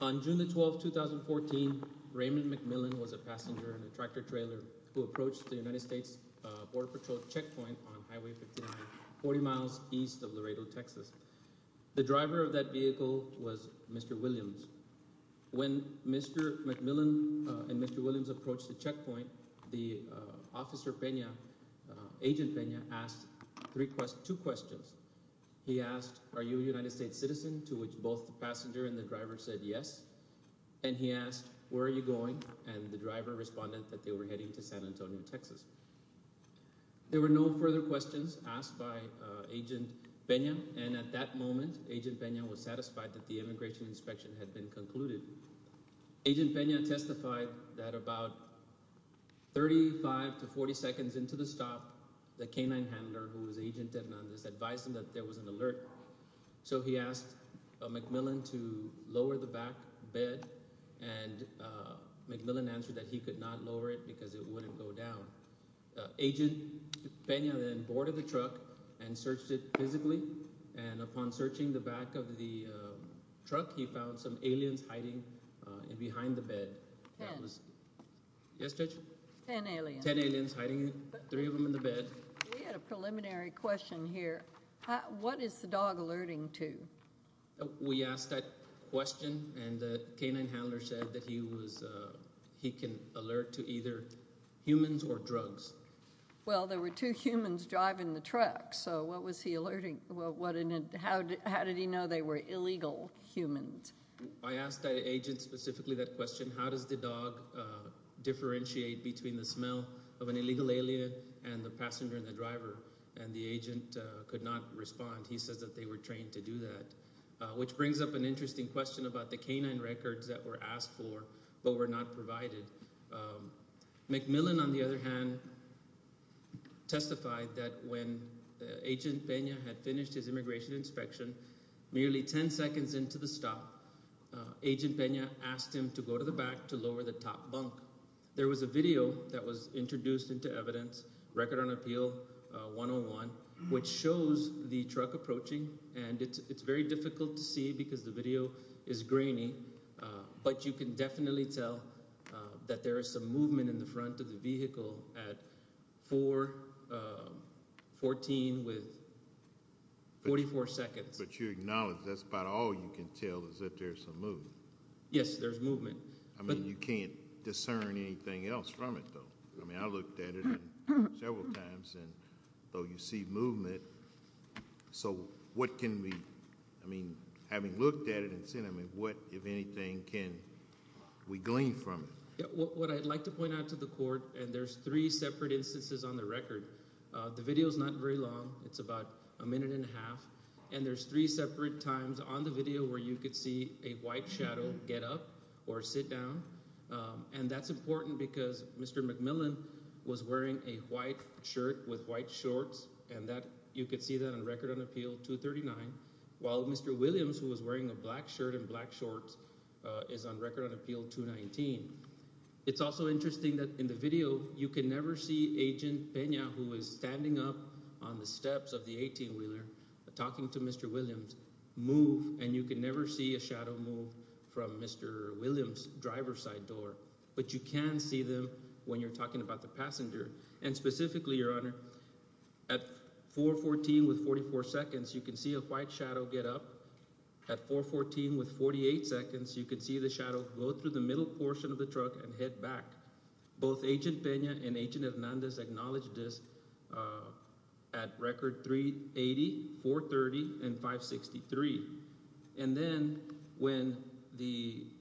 On June 12, 2014, Raymond McMillon was a passenger in a tractor-trailer who approached the United States Border Patrol checkpoint on Highway 59, 40 miles east of Laredo, Texas. The driver of that vehicle was Mr. Williams. When Mr. McMillon and Mr. Williams approached the checkpoint, Agent Pena asked two questions. He asked, are you a United States citizen, to which both the passenger and the driver said yes. And he asked, where are you going, and the driver responded that they were heading to San Antonio, Texas. There were no further questions asked by Agent Pena, and at that moment, Agent Pena was satisfied that the immigration inspection had been concluded. Agent Pena testified that about 35 to 40 seconds into the stop, the canine handler, who was Agent Hernandez, advised him that there was an alert. So he asked McMillon to lower the back bed, and McMillon answered that he could not lower it because it wouldn't go down. Agent Pena then boarded the truck and searched it physically, and upon searching the back of the truck, he found some aliens hiding behind the bed. Ten. Yes, Judge? Ten aliens. Ten aliens hiding, three of them in the bed. We had a preliminary question here. What is the dog alerting to? We asked that question, and the canine handler said that he can alert to either humans or drugs. Well, there were two humans driving the truck, so what was he alerting? How did he know they were illegal humans? I asked that agent specifically that question, how does the dog differentiate between the smell of an illegal alien and the passenger and the driver, and the agent could not respond. He says that they were trained to do that, which brings up an interesting question about the canine records that were asked for but were not provided. McMillon, on the other hand, testified that when agent Pena had finished his immigration inspection, nearly ten seconds into the stop, agent Pena asked him to go to the back to lower the top bunk. There was a video that was introduced into evidence, Record on Appeal 101, which shows the truck approaching, and it's very difficult to see because the video is grainy, but you can definitely tell that there is some movement in the front of the vehicle at 4.14 with 44 seconds. But you acknowledge that's about all you can tell is that there's some movement. Yes, there's movement. I mean, you can't discern anything else from it, though. I mean, I looked at it several times, and though you see movement, so what can we – I mean, having looked at it and seen it, I mean, what, if anything, can we glean from it? What I'd like to point out to the court – and there's three separate instances on the record. The video is not very long. It's about a minute and a half, and there's three separate times on the video where you could see a white shadow get up or sit down. And that's important because Mr. McMillan was wearing a white shirt with white shorts, and you could see that on Record on Appeal 239, while Mr. Williams, who was wearing a black shirt and black shorts, is on Record on Appeal 219. It's also interesting that in the video you can never see Agent Pena, who is standing up on the steps of the 18-wheeler, talking to Mr. Williams, move, and you can never see a shadow move from Mr. Williams' driver's side door. But you can see them when you're talking about the passenger, and specifically, Your Honor, at 414 with 44 seconds, you can see a white shadow get up. At 414 with 48 seconds, you can see the shadow go through the middle portion of the truck and head back. Both Agent Pena and Agent Hernandez acknowledged this at Record 380, 430, and 563. And then when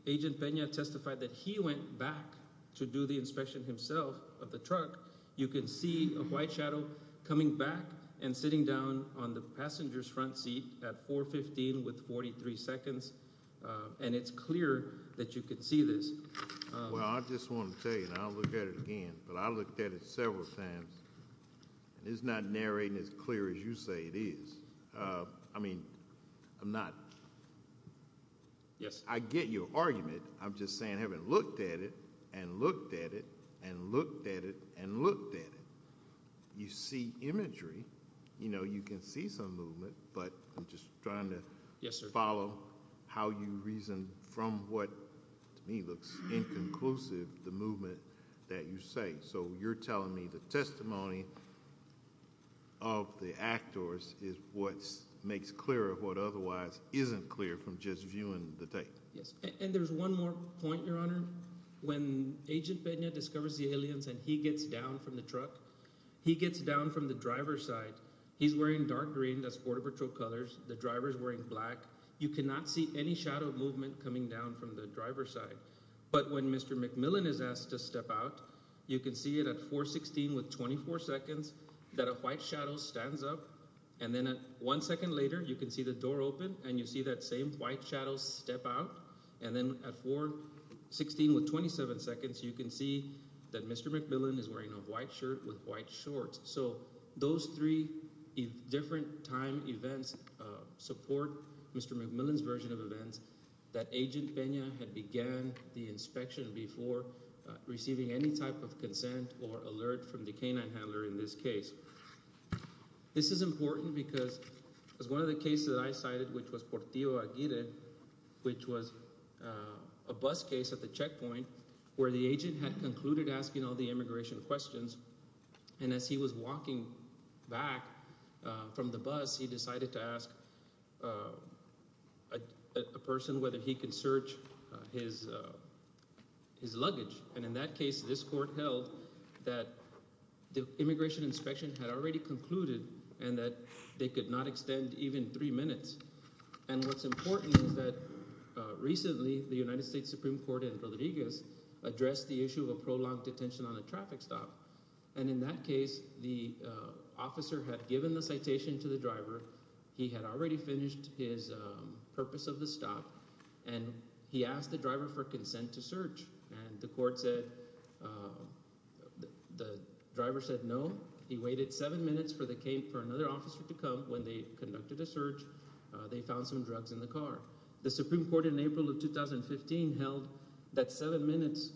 Agent Pena testified that he went back to do the inspection himself of the truck, you can see a white shadow coming back and sitting down on the passenger's front seat at 415 with 43 seconds, and it's clear that you can see this. Well, I just want to tell you, and I'll look at it again, but I looked at it several times, and it's not narrating as clear as you say it is. I mean, I'm not- Yes. I get your argument. I'm just saying I haven't looked at it and looked at it and looked at it and looked at it. You see imagery. You can see some movement, but I'm just trying to follow how you reason from what, to me, looks inconclusive, the movement that you say. So you're telling me the testimony of the actors is what makes clear what otherwise isn't clear from just viewing the tape? Yes, and there's one more point, Your Honor. When Agent Pena discovers the aliens and he gets down from the truck, he gets down from the driver's side. He's wearing dark green. That's Border Patrol colors. The driver's wearing black. But when Mr. McMillan is asked to step out, you can see it at 4.16 with 24 seconds that a white shadow stands up. And then at one second later, you can see the door open, and you see that same white shadow step out. And then at 4.16 with 27 seconds, you can see that Mr. McMillan is wearing a white shirt with white shorts. So those three different time events support Mr. McMillan's version of events that Agent Pena had began the inspection before receiving any type of consent or alert from the canine handler in this case. This is important because it was one of the cases that I cited, which was Portillo Aguirre, which was a bus case at the checkpoint where the agent had concluded asking all the immigration questions. And as he was walking back from the bus, he decided to ask a person whether he could search his luggage. And in that case, this court held that the immigration inspection had already concluded and that they could not extend even three minutes. And what's important is that recently the United States Supreme Court in Rodriguez addressed the issue of a prolonged detention on a traffic stop. And in that case, the officer had given the citation to the driver, he had already finished his purpose of the stop, and he asked the driver for consent to search. And the court said – the driver said no. He waited seven minutes for another officer to come. When they conducted a search, they found some drugs in the car. The Supreme Court in April of 2015 held that seven minutes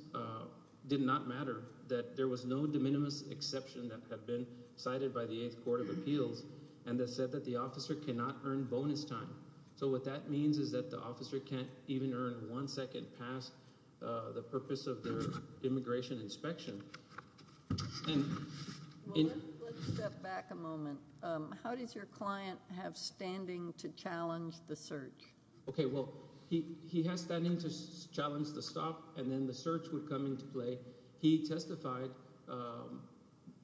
did not matter, that there was no de minimis exception that had been cited by the Eighth Court of Appeals, and that said that the officer cannot earn bonus time. So what that means is that the officer can't even earn one second past the purpose of their immigration inspection. Let's step back a moment. How does your client have standing to challenge the search? Okay, well, he has standing to challenge the stop, and then the search would come into play. He testified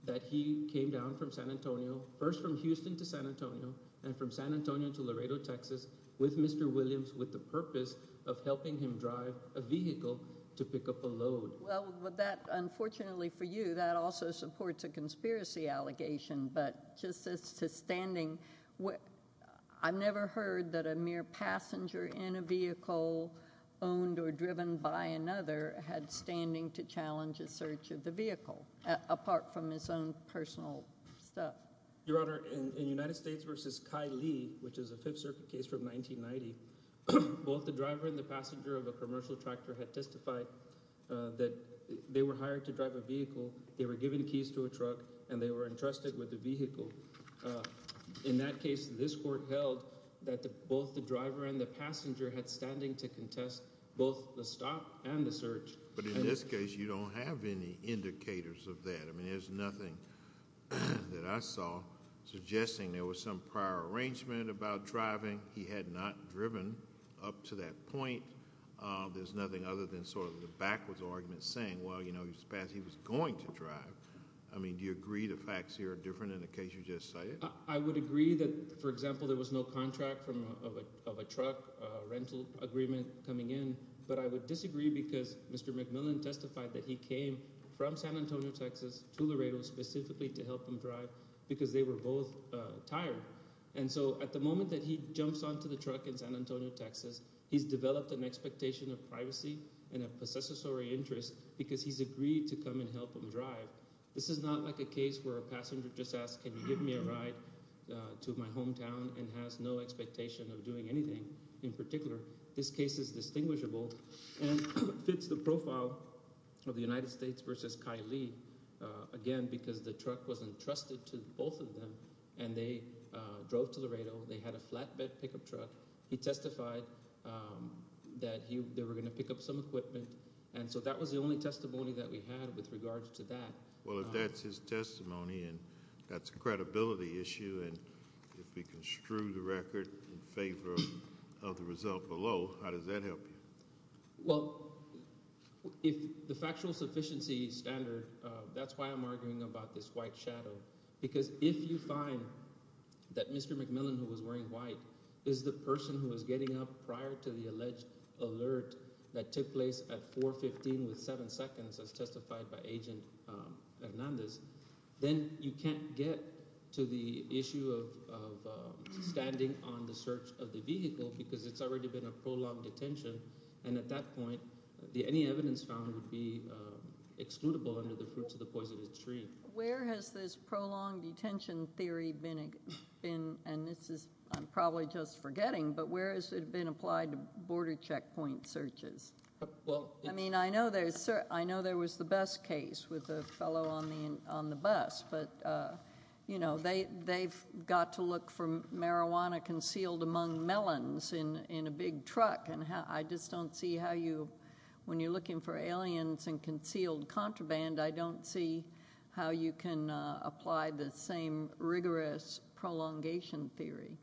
that he came down from San Antonio, first from Houston to San Antonio, and from San Antonio to Laredo, Texas, with Mr. Williams with the purpose of helping him drive a vehicle to pick up a load. Well, that – unfortunately for you, that also supports a conspiracy allegation, but just as to standing – I've never heard that a mere passenger in a vehicle owned or driven by another had standing to challenge a search of the vehicle, apart from his own personal stuff. Your Honor, in United States v. Ky Lee, which is a Fifth Circuit case from 1990, both the driver and the passenger of a commercial tractor had testified that they were hired to drive a vehicle, they were given keys to a truck, and they were entrusted with the vehicle. In that case, this court held that both the driver and the passenger had standing to contest both the stop and the search. But in this case, you don't have any indicators of that. I mean there's nothing that I saw suggesting there was some prior arrangement about driving. He had not driven up to that point. There's nothing other than sort of the backwards argument saying, well, you know, he was going to drive. I mean do you agree the facts here are different than the case you just cited? I would agree that, for example, there was no contract of a truck rental agreement coming in, but I would disagree because Mr. McMillan testified that he came from San Antonio, Texas to Laredo specifically to help him drive because they were both tired. And so at the moment that he jumps onto the truck in San Antonio, Texas, he's developed an expectation of privacy and a possessory interest because he's agreed to come and help him drive. This is not like a case where a passenger just asks, can you give me a ride to my hometown and has no expectation of doing anything in particular. This case is distinguishable and fits the profile of the United States versus Kylie again because the truck was entrusted to both of them, and they drove to Laredo. They had a flatbed pickup truck. He testified that they were going to pick up some equipment. And so that was the only testimony that we had with regards to that. Well, if that's his testimony and that's a credibility issue and if we construe the record in favor of the result below, how does that help you? Well, if the factual sufficiency standard – that's why I'm arguing about this white shadow because if you find that Mr. McMillan, who was wearing white, is the person who was getting up prior to the alleged alert that took place at 4.15 with seven seconds, as testified by Agent Hernandez, then you can't get to the issue of standing on the search of the vehicle because it's already been a prolonged detention. And at that point, any evidence found would be excludable under the fruits of the poisonous tree. Where has this prolonged detention theory been – and this is – I'm probably just forgetting, but where has it been applied to border checkpoint searches? I mean, I know there was the bus case with the fellow on the bus, but they've got to look for marijuana concealed among melons in a big truck. And I just don't see how you – when you're looking for aliens and concealed contraband, I don't see how you can apply the same rigorous prolongation theory.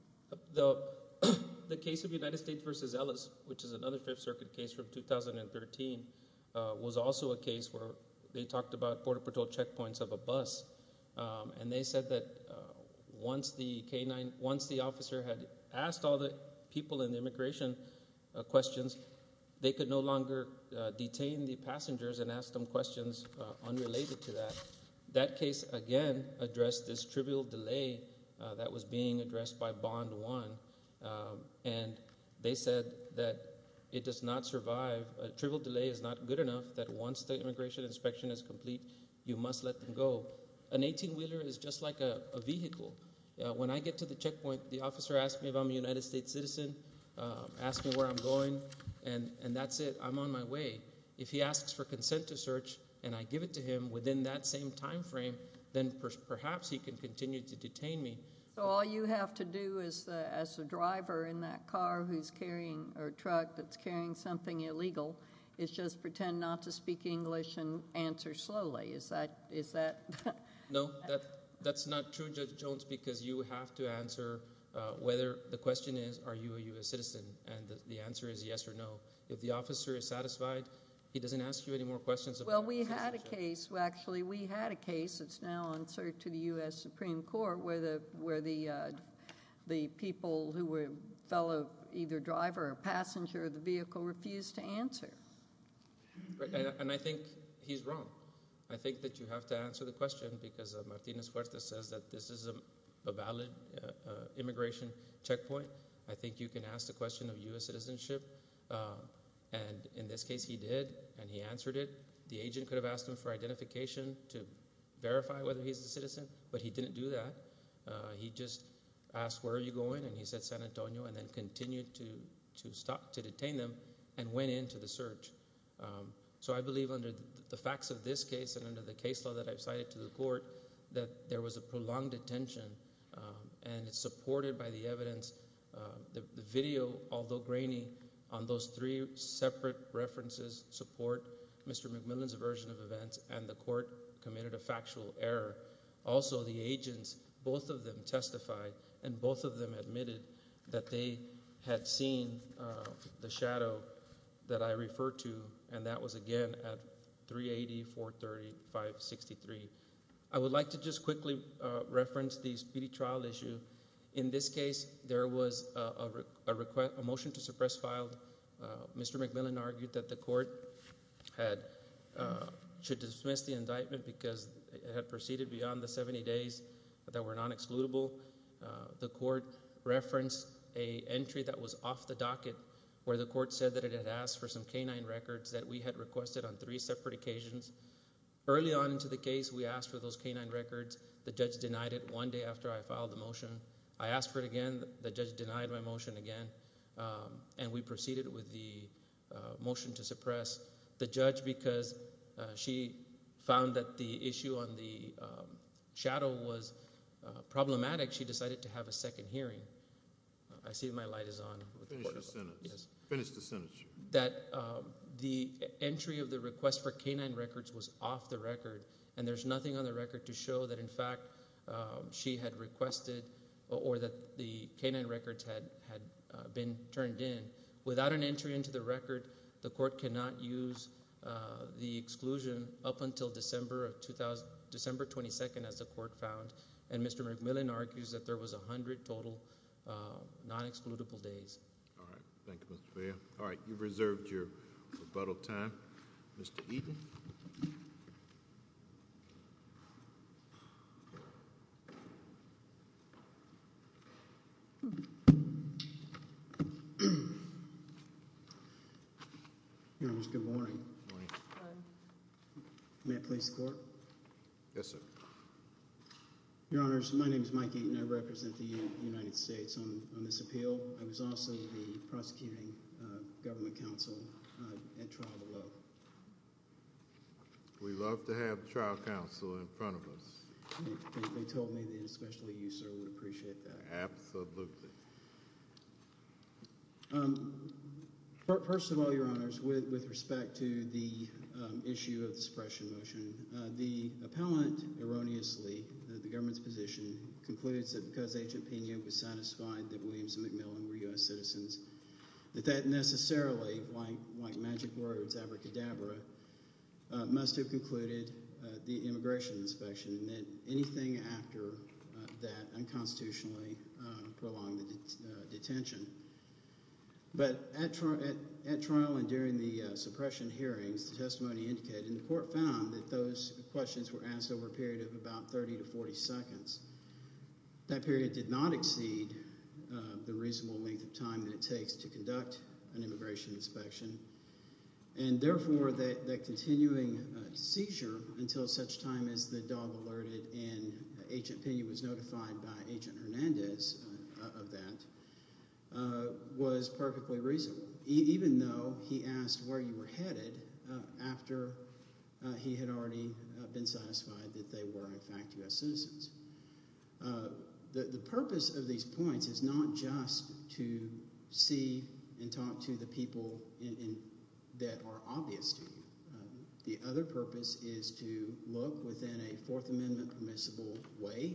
The case of United States v. Ellis, which is another Fifth Circuit case from 2013, was also a case where they talked about border patrol checkpoints of a bus. And they said that once the officer had asked all the people in the immigration questions, they could no longer detain the passengers and ask them questions unrelated to that. That case, again, addressed this trivial delay that was being addressed by Bond One. And they said that it does not survive – a trivial delay is not good enough that once the immigration inspection is complete, you must let them go. An 18-wheeler is just like a vehicle. When I get to the checkpoint, the officer asks me if I'm a United States citizen, asks me where I'm going, and that's it. I'm on my way. If he asks for consent to search and I give it to him within that same timeframe, then perhaps he can continue to detain me. So all you have to do as a driver in that car who's carrying – or truck that's carrying something illegal is just pretend not to speak English and answer slowly. Is that – No, that's not true, Judge Jones, because you have to answer whether – the question is, are you a U.S. citizen? And the answer is yes or no. If the officer is satisfied, he doesn't ask you any more questions about citizenship. Well, we had a case – well, actually, we had a case. It's now on search of the U.S. Supreme Court where the people who were fellow either driver or passenger of the vehicle refused to answer. And I think he's wrong. I think that you have to answer the question because Martinez-Fuertes says that this is a valid immigration checkpoint. I think you can ask the question of U.S. citizenship. And in this case, he did, and he answered it. The agent could have asked him for identification to verify whether he's a citizen, but he didn't do that. He just asked, where are you going? And he said San Antonio and then continued to stop – to detain them and went into the search. So I believe under the facts of this case and under the case law that I've cited to the court that there was a prolonged detention, and it's supported by the evidence. The video, although grainy, on those three separate references support Mr. McMillan's version of events, and the court committed a factual error. Also, the agents, both of them testified, and both of them admitted that they had seen the shadow that I referred to, and that was again at 380-430-563. I would like to just quickly reference the speedy trial issue. In this case, there was a motion to suppress file. Mr. McMillan argued that the court should dismiss the indictment because it had proceeded beyond the 70 days that were non-excludable. The court referenced an entry that was off the docket where the court said that it had asked for some canine records that we had requested on three separate occasions. Early on into the case, we asked for those canine records. The judge denied it one day after I filed the motion. I asked for it again. The judge denied my motion again, and we proceeded with the motion to suppress the judge because she found that the issue on the shadow was problematic. She decided to have a second hearing. I see my light is on. Finish the sentence. The entry of the request for canine records was off the record, and there's nothing on the record to show that, in fact, she had requested or that the canine records had been turned in. Without an entry into the record, the court cannot use the exclusion up until December 22nd, as the court found, and Mr. McMillan argues that there was 100 total non-excludable days. All right. Thank you, Mr. Fair. All right. You've reserved your rebuttal time. Mr. Eaton. Your Honor, good morning. Good morning. May I please the court? Yes, sir. Your Honor, my name is Mike Eaton. I represent the United States on this appeal. I was also the prosecuting government counsel at trial below. We love to have trial counsel in front of us. They told me that especially you, sir, would appreciate that. Absolutely. First of all, Your Honors, with respect to the issue of the suppression motion, the appellant erroneously, the government's position, concludes that because Agent Pena was satisfied that Williams and McMillan were U.S. citizens, that that necessarily, like magic words, abracadabra, must have concluded the immigration inspection and that anything after that unconstitutionally prolonged the detention. But at trial and during the suppression hearings, the testimony indicated, and the court found that those questions were asked over a period of about 30 to 40 seconds. That period did not exceed the reasonable length of time that it takes to conduct an immigration inspection. And therefore that continuing seizure until such time as the dog alerted and Agent Pena was notified by Agent Hernandez of that was perfectly reasonable, even though he asked where you were headed after he had already been satisfied that they were, in fact, U.S. citizens. The purpose of these points is not just to see and talk to the people that are obvious to you. The other purpose is to look within a Fourth Amendment permissible way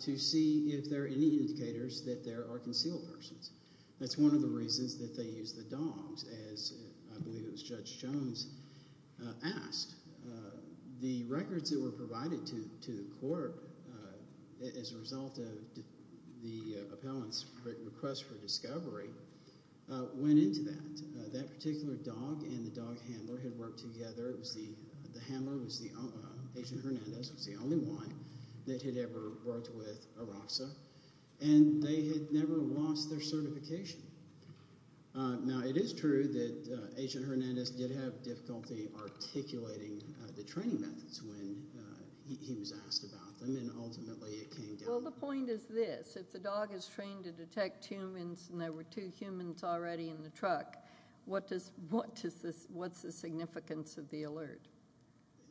to see if there are any indicators that there are concealed persons. That's one of the reasons that they used the dogs, as I believe it was Judge Jones asked. The records that were provided to the court as a result of the appellant's request for discovery went into that. That particular dog and the dog handler had worked together. It was the handler, Agent Hernandez, was the only one that had ever worked with ARAHSA, and they had never lost their certification. Now, it is true that Agent Hernandez did have difficulty articulating the training methods when he was asked about them, and ultimately it came down to— Well, the point is this. If the dog is trained to detect humans and there were two humans already in the truck, what does this—what's the significance of the alert?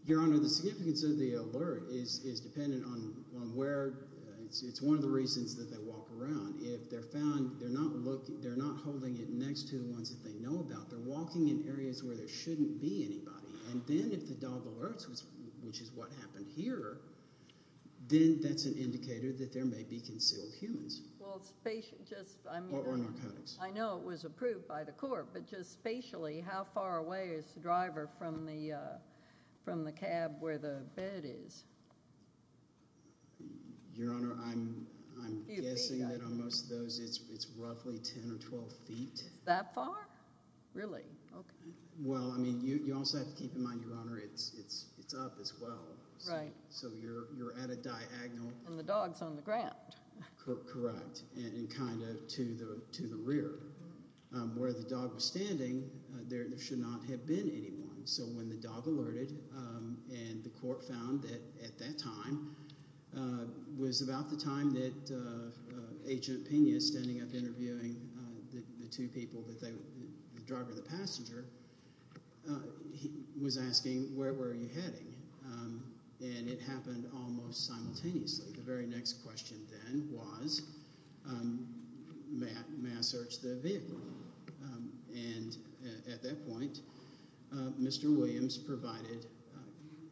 Your Honor, the significance of the alert is dependent on where—it's one of the reasons that they walk around. If they're found, they're not holding it next to the ones that they know about. They're walking in areas where there shouldn't be anybody. And then if the dog alerts, which is what happened here, then that's an indicator that there may be concealed humans or narcotics. I know it was approved by the court, but just spatially, how far away is the driver from the cab where the bed is? Your Honor, I'm guessing that on most of those, it's roughly 10 or 12 feet. That far? Really? Okay. Well, I mean, you also have to keep in mind, Your Honor, it's up as well. Right. So you're at a diagonal. And the dog's on the ground. Correct, and kind of to the rear. Where the dog was standing, there should not have been anyone. So when the dog alerted and the court found that at that time was about the time that Agent Pena, standing up interviewing the two people, the driver and the passenger, was asking, where were you heading? And it happened almost simultaneously. The very next question then was, may I search the vehicle? And at that point, Mr. Williams provided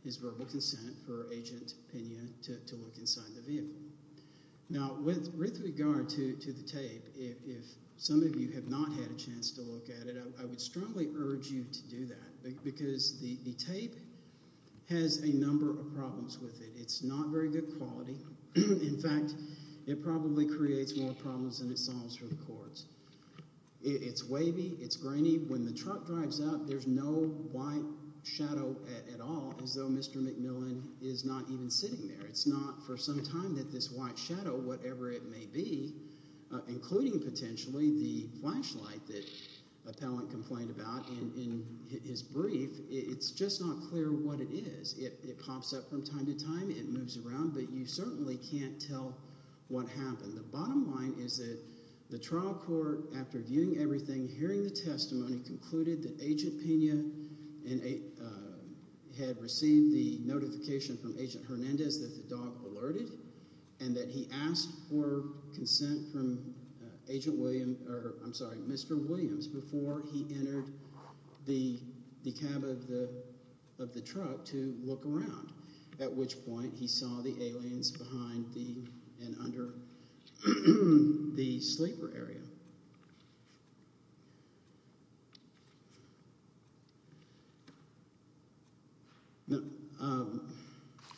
his verbal consent for Agent Pena to look inside the vehicle. Now, with regard to the tape, if some of you have not had a chance to look at it, I would strongly urge you to do that because the tape has a number of problems with it. It's not very good quality. In fact, it probably creates more problems than it solves for the courts. It's wavy. It's grainy. When the truck drives up, there's no white shadow at all, as though Mr. McMillan is not even sitting there. It's not for some time that this white shadow, whatever it may be, including potentially the flashlight that appellant complained about in his brief, it's just not clear what it is. It pops up from time to time. It moves around. But you certainly can't tell what happened. The bottom line is that the trial court, after viewing everything, hearing the testimony, concluded that Agent Pena had received the notification from Agent Hernandez that the dog alerted and that he asked for consent from Mr. Williams before he entered the cab of the truck to look around, at which point he saw the aliens behind and under the sleeper area. Is that correct?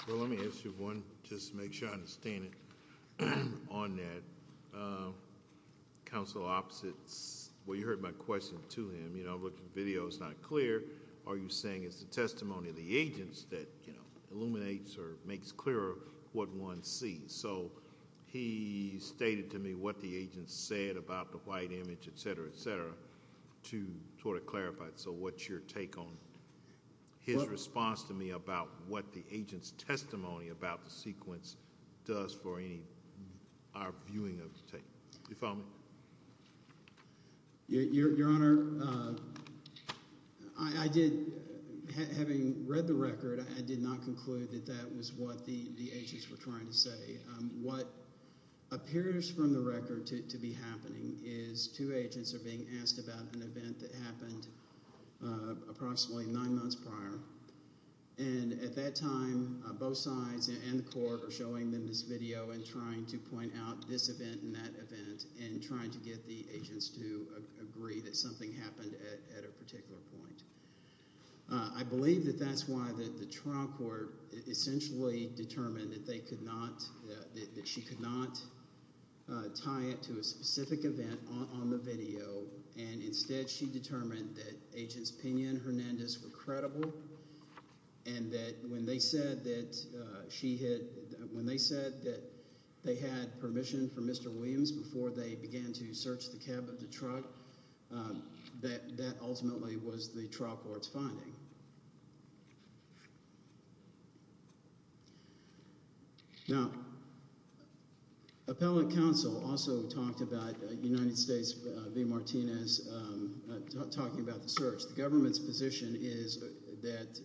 Well, let me ask you one, just to make sure I understand it. On that, counsel opposites, well, you heard my question to him. I'm looking at the video. It's not clear. Are you saying it's the testimony of the agents that illuminates or makes clearer what one sees? So he stated to me what the agents said about the white image, et cetera, et cetera, to sort of clarify. So what's your take on his response to me about what the agent's testimony about the sequence does for our viewing of the tape? Do you follow me? Your Honor, I did, having read the record, I did not conclude that that was what the agents were trying to say. What appears from the record to be happening is two agents are being asked about an event that happened approximately nine months prior. And at that time, both sides and the court are showing them this video and trying to point out this event and that event and trying to get the agents to agree that something happened at a particular point. I believe that that's why the trial court essentially determined that they could not – that she could not tie it to a specific event on the video. And instead she determined that Agents Pinon and Hernandez were credible and that when they said that she had – when they said that they had permission from Mr. Williams before they began to search the cab of the truck, that ultimately was the trial court's finding. Now, appellate counsel also talked about United States v. Martinez talking about the search. The government's position is that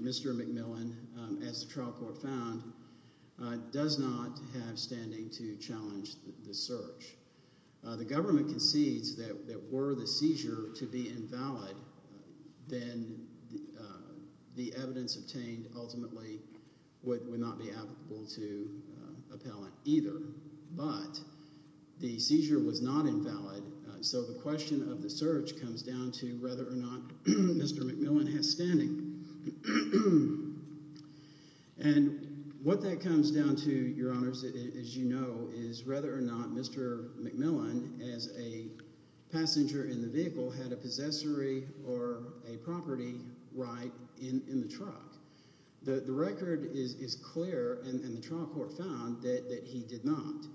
Mr. McMillan, as the trial court found, does not have standing to challenge the search. The government concedes that were the seizure to be invalid, then the evidence obtained ultimately would not be applicable to appellant either. But the seizure was not invalid, so the question of the search comes down to whether or not Mr. McMillan has standing. And what that comes down to, Your Honors, as you know, is whether or not Mr. McMillan, as a passenger in the vehicle, had a possessory or a property right in the truck. The record is clear, and the trial court found that he did not.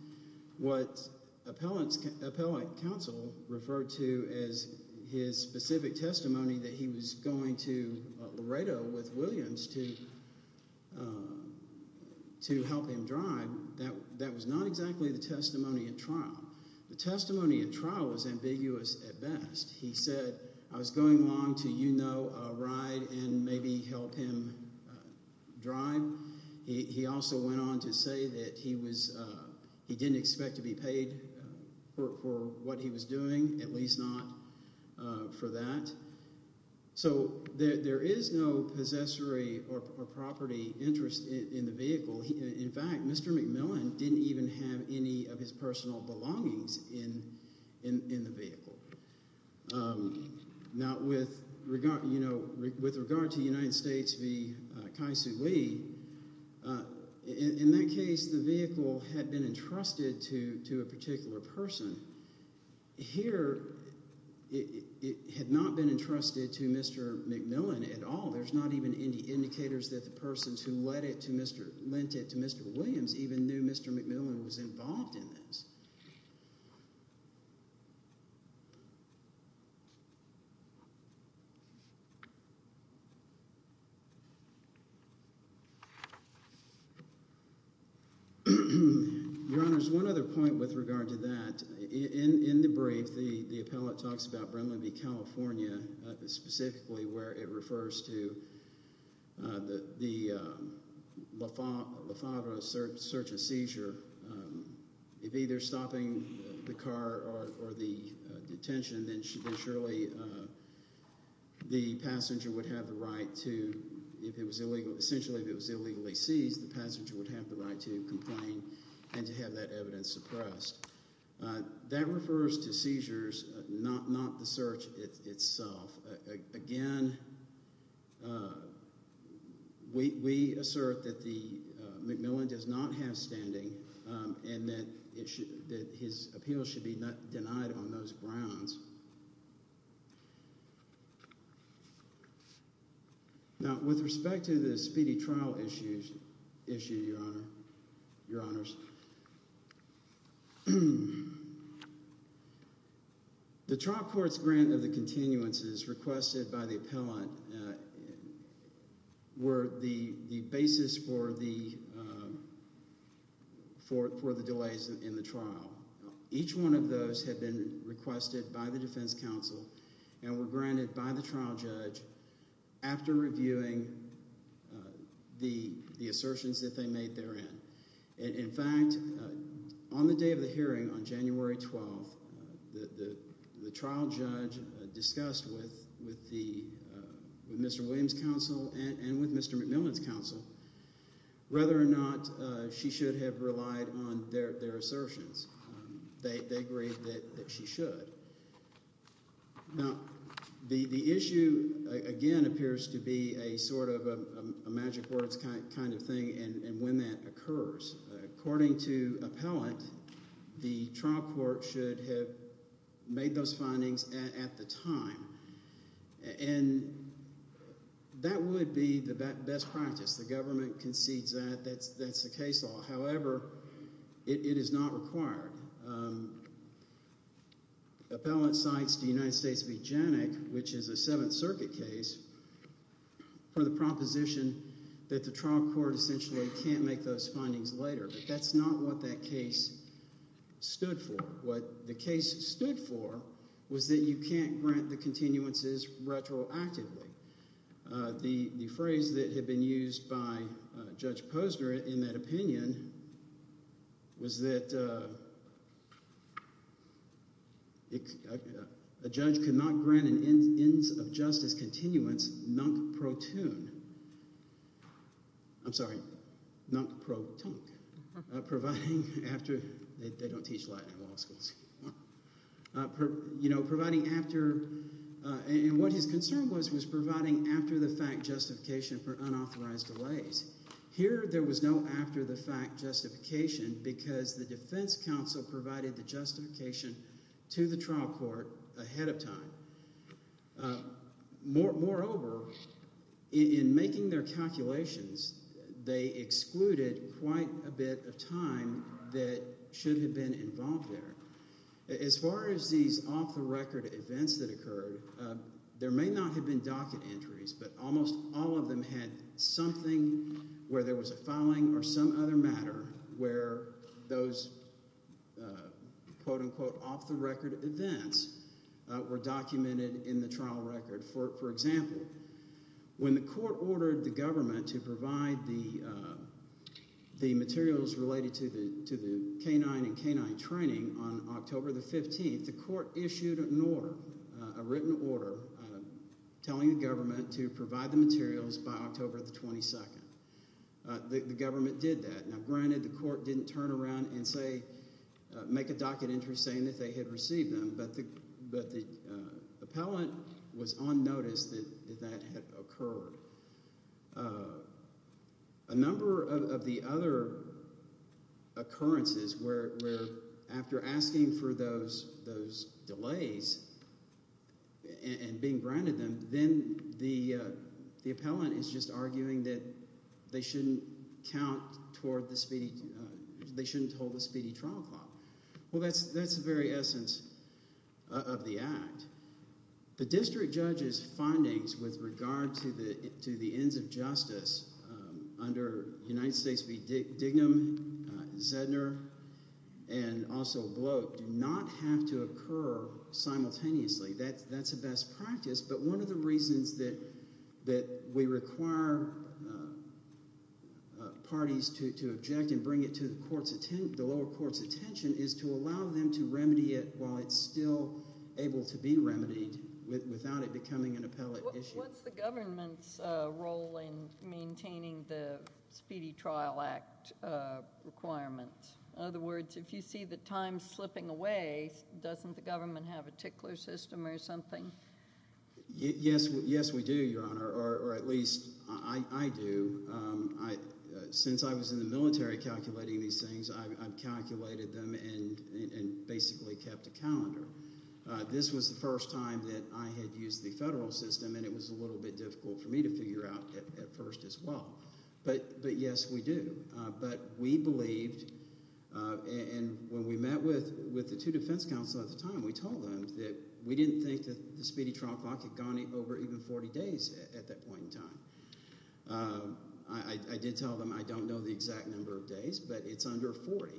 What appellate counsel referred to as his specific testimony that he was going to Laredo with Williams to help him drive, that was not exactly the testimony at trial. The testimony at trial was ambiguous at best. He said, I was going along to, you know, a ride and maybe help him drive. He also went on to say that he was – he didn't expect to be paid for what he was doing, at least not for that. So there is no possessory or property interest in the vehicle. In fact, Mr. McMillan didn't even have any of his personal belongings in the vehicle. Now, with regard to the United States v. Kai Sui, in that case the vehicle had been entrusted to a particular person. Here it had not been entrusted to Mr. McMillan at all. There's not even any indicators that the persons who lent it to Mr. Williams even knew Mr. McMillan was involved in this. Your Honor, there's one other point with regard to that. That refers to seizures, not the search itself. Again, we assert that McMillan does not have standing and that his appeal should be denied on those grounds. Now, with respect to the speedy trial issue, Your Honor, Your Honors, the trial court's grant of the continuances requested by the appellant were the basis for the delays in the trial. Each one of those had been requested by the defense counsel and were granted by the trial judge after reviewing the assertions that they made therein. In fact, on the day of the hearing on January 12th, the trial judge discussed with Mr. Williams' counsel and with Mr. McMillan's counsel whether or not she should have relied on their assertions. They agreed that she should. Now, the issue, again, appears to be a sort of a magic words kind of thing and when that occurs. According to appellant, the trial court should have made those findings at the time. And that would be the best practice. The government concedes that. That's the case law. However, it is not required. Appellant cites the United States of Eugenic, which is a Seventh Circuit case, for the proposition that the trial court essentially can't make those findings later. But that's not what that case stood for. What the case stood for was that you can't grant the continuances retroactively. The phrase that had been used by Judge Posner in that opinion was that a judge could not grant an ends of justice continuance non-pro-tune. I'm sorry. Non-pro-tunc. Providing after – they don't teach Latin in law schools. Providing after – and what his concern was was providing after-the-fact justification for unauthorized delays. Here there was no after-the-fact justification because the defense counsel provided the justification to the trial court ahead of time. Moreover, in making their calculations, they excluded quite a bit of time that should have been involved there. As far as these off-the-record events that occurred, there may not have been docket entries, but almost all of them had something where there was a filing or some other matter where those, quote-unquote, off-the-record events were documented in the trial record. For example, when the court ordered the government to provide the materials related to the canine and canine training on October the 15th, the court issued an order, a written order, telling the government to provide the materials by October the 22nd. The government did that. Now, granted the court didn't turn around and say – make a docket entry saying that they had received them, but the appellant was on notice that that had occurred. A number of the other occurrences where after asking for those delays and being granted them, then the appellant is just arguing that they shouldn't count toward the speedy – they shouldn't hold the speedy trial clock. Well, that's the very essence of the act. The district judge's findings with regard to the ends of justice under United States v. Dignam, Zedner, and also Bloke do not have to occur simultaneously. That's a best practice, but one of the reasons that we require parties to object and bring it to the lower court's attention is to allow them to remedy it while it's still able to be remedied without it becoming an appellate issue. What's the government's role in maintaining the Speedy Trial Act requirements? In other words, if you see the time slipping away, doesn't the government have a tickler system or something? Yes, we do, Your Honor, or at least I do. Since I was in the military calculating these things, I've calculated them and basically kept a calendar. This was the first time that I had used the federal system, and it was a little bit difficult for me to figure out at first as well. But yes, we do. But we believed, and when we met with the two defense counsel at the time, we told them that we didn't think that the Speedy Trial Clock had gone over even 40 days at that point in time. I did tell them I don't know the exact number of days, but it's under 40.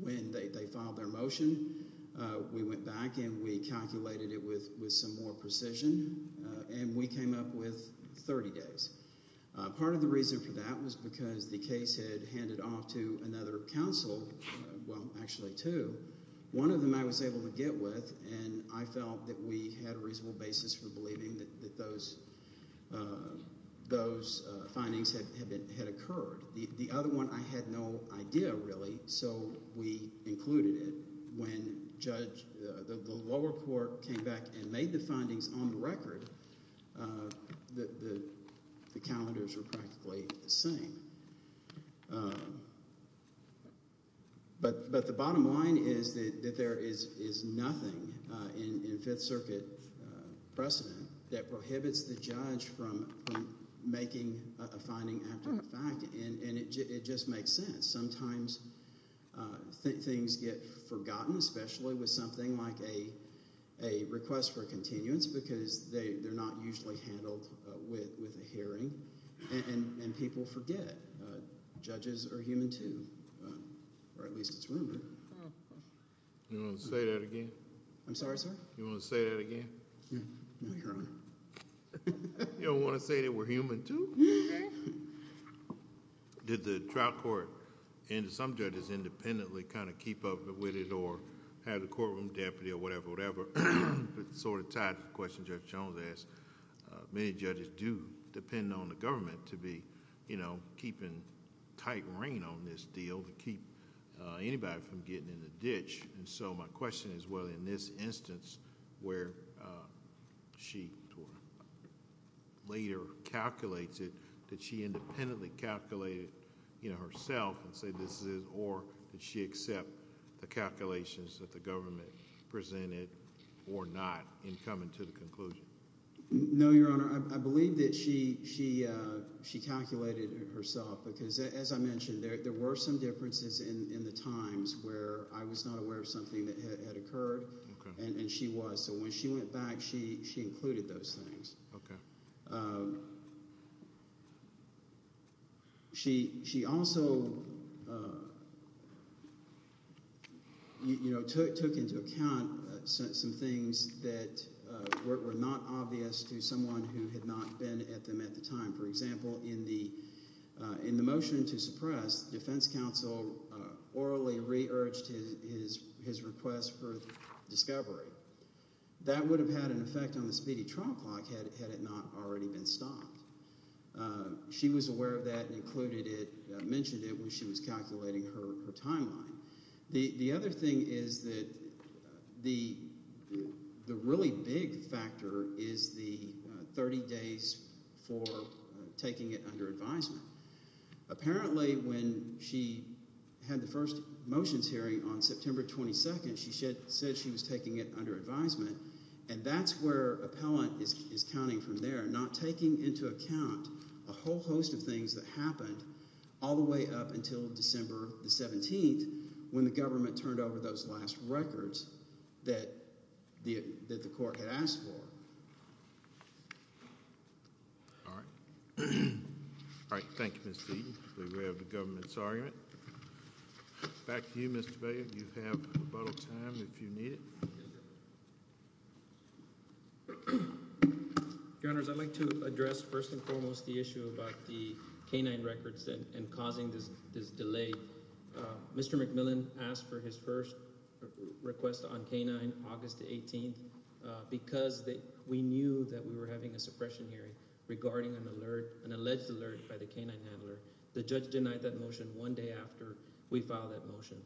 When they filed their motion, we went back and we calculated it with some more precision, and we came up with 30 days. Part of the reason for that was because the case had handed off to another counsel – well, actually two. One of them I was able to get with, and I felt that we had a reasonable basis for believing that those findings had occurred. The other one I had no idea really, so we included it. When Judge – the lower court came back and made the findings on the record, the calendars were practically the same. But the bottom line is that there is nothing in Fifth Circuit precedent that prohibits the judge from making a finding after the fact, and it just makes sense. Sometimes things get forgotten, especially with something like a request for a continuance, because they're not usually handled with a hearing, and people forget. Judges are human too, or at least it's rumored. You want to say that again? I'm sorry, sir? You want to say that again? Yes, Your Honor. You don't want to say that we're human too? Okay. Did the trial court and some judges independently kind of keep up with it, or had a courtroom deputy or whatever? It's sort of tied to the question Judge Jones asked. Many judges do depend on the government to be keeping tight rein on this deal to keep anybody from getting in a ditch. My question is whether in this instance where she later calculates it, did she independently calculate it herself and say this is, or did she accept the calculations that the government presented or not in coming to the conclusion? No, Your Honor. I believe that she calculated it herself because, as I mentioned, there were some differences in the times where I was not aware of something that had occurred, and she was. So when she went back, she included those things. Okay. She also took into account some things that were not obvious to someone who had not been at them at the time. For example, in the motion to suppress, the defense counsel orally re-urged his request for discovery. That would have had an effect on the speedy trial clock had it not already been stopped. She was aware of that and included it, mentioned it when she was calculating her timeline. The other thing is that the really big factor is the 30 days for taking it under advisement. Apparently when she had the first motions hearing on September 22nd, she said she was taking it under advisement, and that's where appellant is counting from there, not taking into account a whole host of things that happened all the way up until December 17th when the government turned over those last records that the court had asked for. All right. All right. Thank you, Ms. Deaton. I believe we have the government's argument. Back to you, Mr. Bailey. You have rebuttal time if you need it. Your Honors, I'd like to address first and foremost the issue about the K-9 records and causing this delay. Mr. McMillan asked for his first request on K-9 August 18th because we knew that we were having a suppression hearing regarding an alert, an alleged alert by the K-9 handler. The judge denied that motion one day after we filed that motion.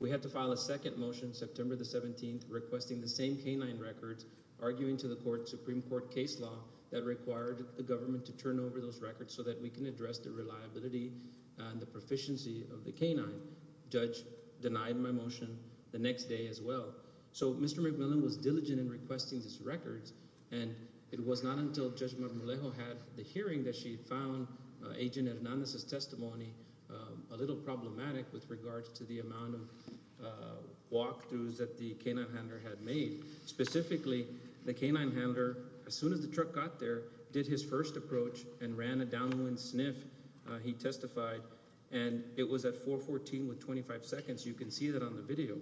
We had to file a second motion, September 17th, requesting the same K-9 records, arguing to the Supreme Court case law that required the government to turn over those records so that we can address the reliability and the proficiency of the K-9. Judge denied my motion the next day as well. So Mr. McMillan was diligent in requesting these records, and it was not until Judge Marmolejo had the hearing that she found Agent Hernandez's testimony a little problematic with regards to the amount of walkthroughs that the K-9 handler had made. Specifically, the K-9 handler, as soon as the truck got there, did his first approach and ran a downwind sniff, he testified, and it was at 414 with 25 seconds. You can see that on the video.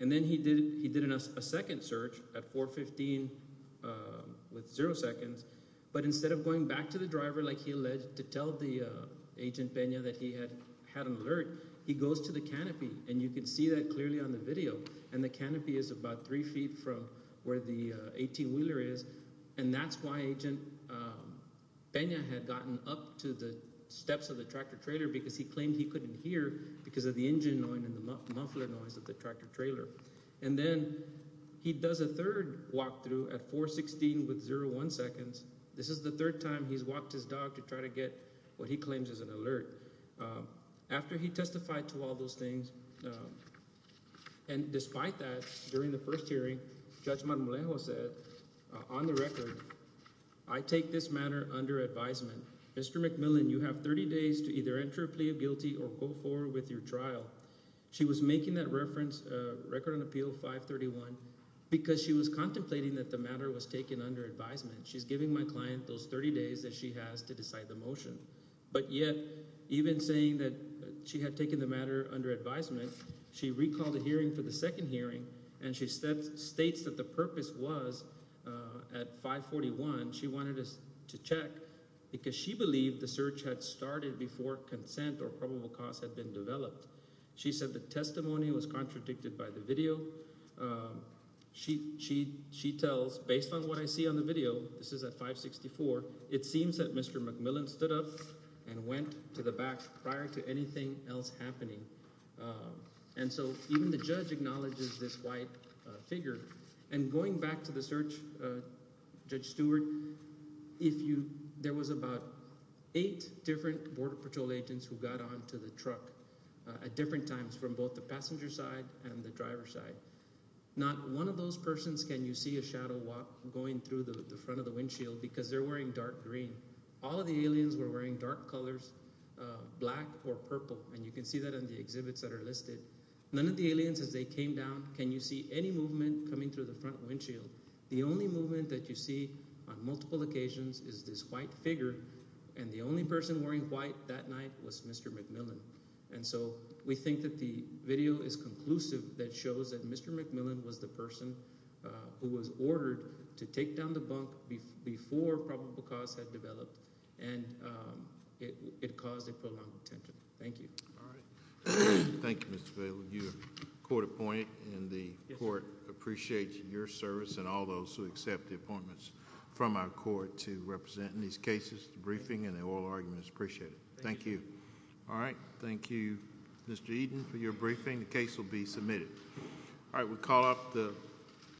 And then he did a second search at 415 with zero seconds, but instead of going back to the driver like he alleged to tell Agent Pena that he had an alert, he goes to the canopy, and you can see that clearly on the video. And the canopy is about three feet from where the 18-wheeler is, and that's why Agent Pena had gotten up to the steps of the tractor-trailer, because he claimed he couldn't hear because of the engine noise and the muffler noise of the tractor-trailer. And then he does a third walkthrough at 416 with zero one seconds. This is the third time he's walked his dog to try to get what he claims is an alert. After he testified to all those things, and despite that, during the first hearing, Judge Marmolejo said, on the record, I take this matter under advisement. Mr. McMillan, you have 30 days to either enter a plea of guilty or go forward with your trial. She was making that reference, Record and Appeal 531, because she was contemplating that the matter was taken under advisement. She's giving my client those 30 days that she has to decide the motion. But yet, even saying that she had taken the matter under advisement, she recalled the hearing for the second hearing, and she states that the purpose was, at 541, she wanted us to check because she believed the search had started before consent or probable cause had been developed. She said the testimony was contradicted by the video. She tells, based on what I see on the video, this is at 564, it seems that Mr. McMillan stood up and went to the back prior to anything else happening. And so even the judge acknowledges this white figure. And going back to the search, Judge Stewart, if you – there was about eight different Border Patrol agents who got onto the truck at different times from both the passenger side and the driver side. Not one of those persons can you see a shadow walk going through the front of the windshield because they're wearing dark green. All of the aliens were wearing dark colors, black or purple, and you can see that in the exhibits that are listed. None of the aliens, as they came down, can you see any movement coming through the front windshield. The only movement that you see on multiple occasions is this white figure, and the only person wearing white that night was Mr. McMillan. And so we think that the video is conclusive that shows that Mr. McMillan was the person who was ordered to take down the bunk before probable cause had developed, and it caused a prolonged tension. Thank you. All right. Thank you, Mr. Vail. You're court-appointed, and the court appreciates your service and all those who accept the appointments from our court to represent in these cases. The briefing and the oral argument is appreciated. Thank you. All right. Thank you, Mr. Eden, for your briefing. All right. We'll call off the –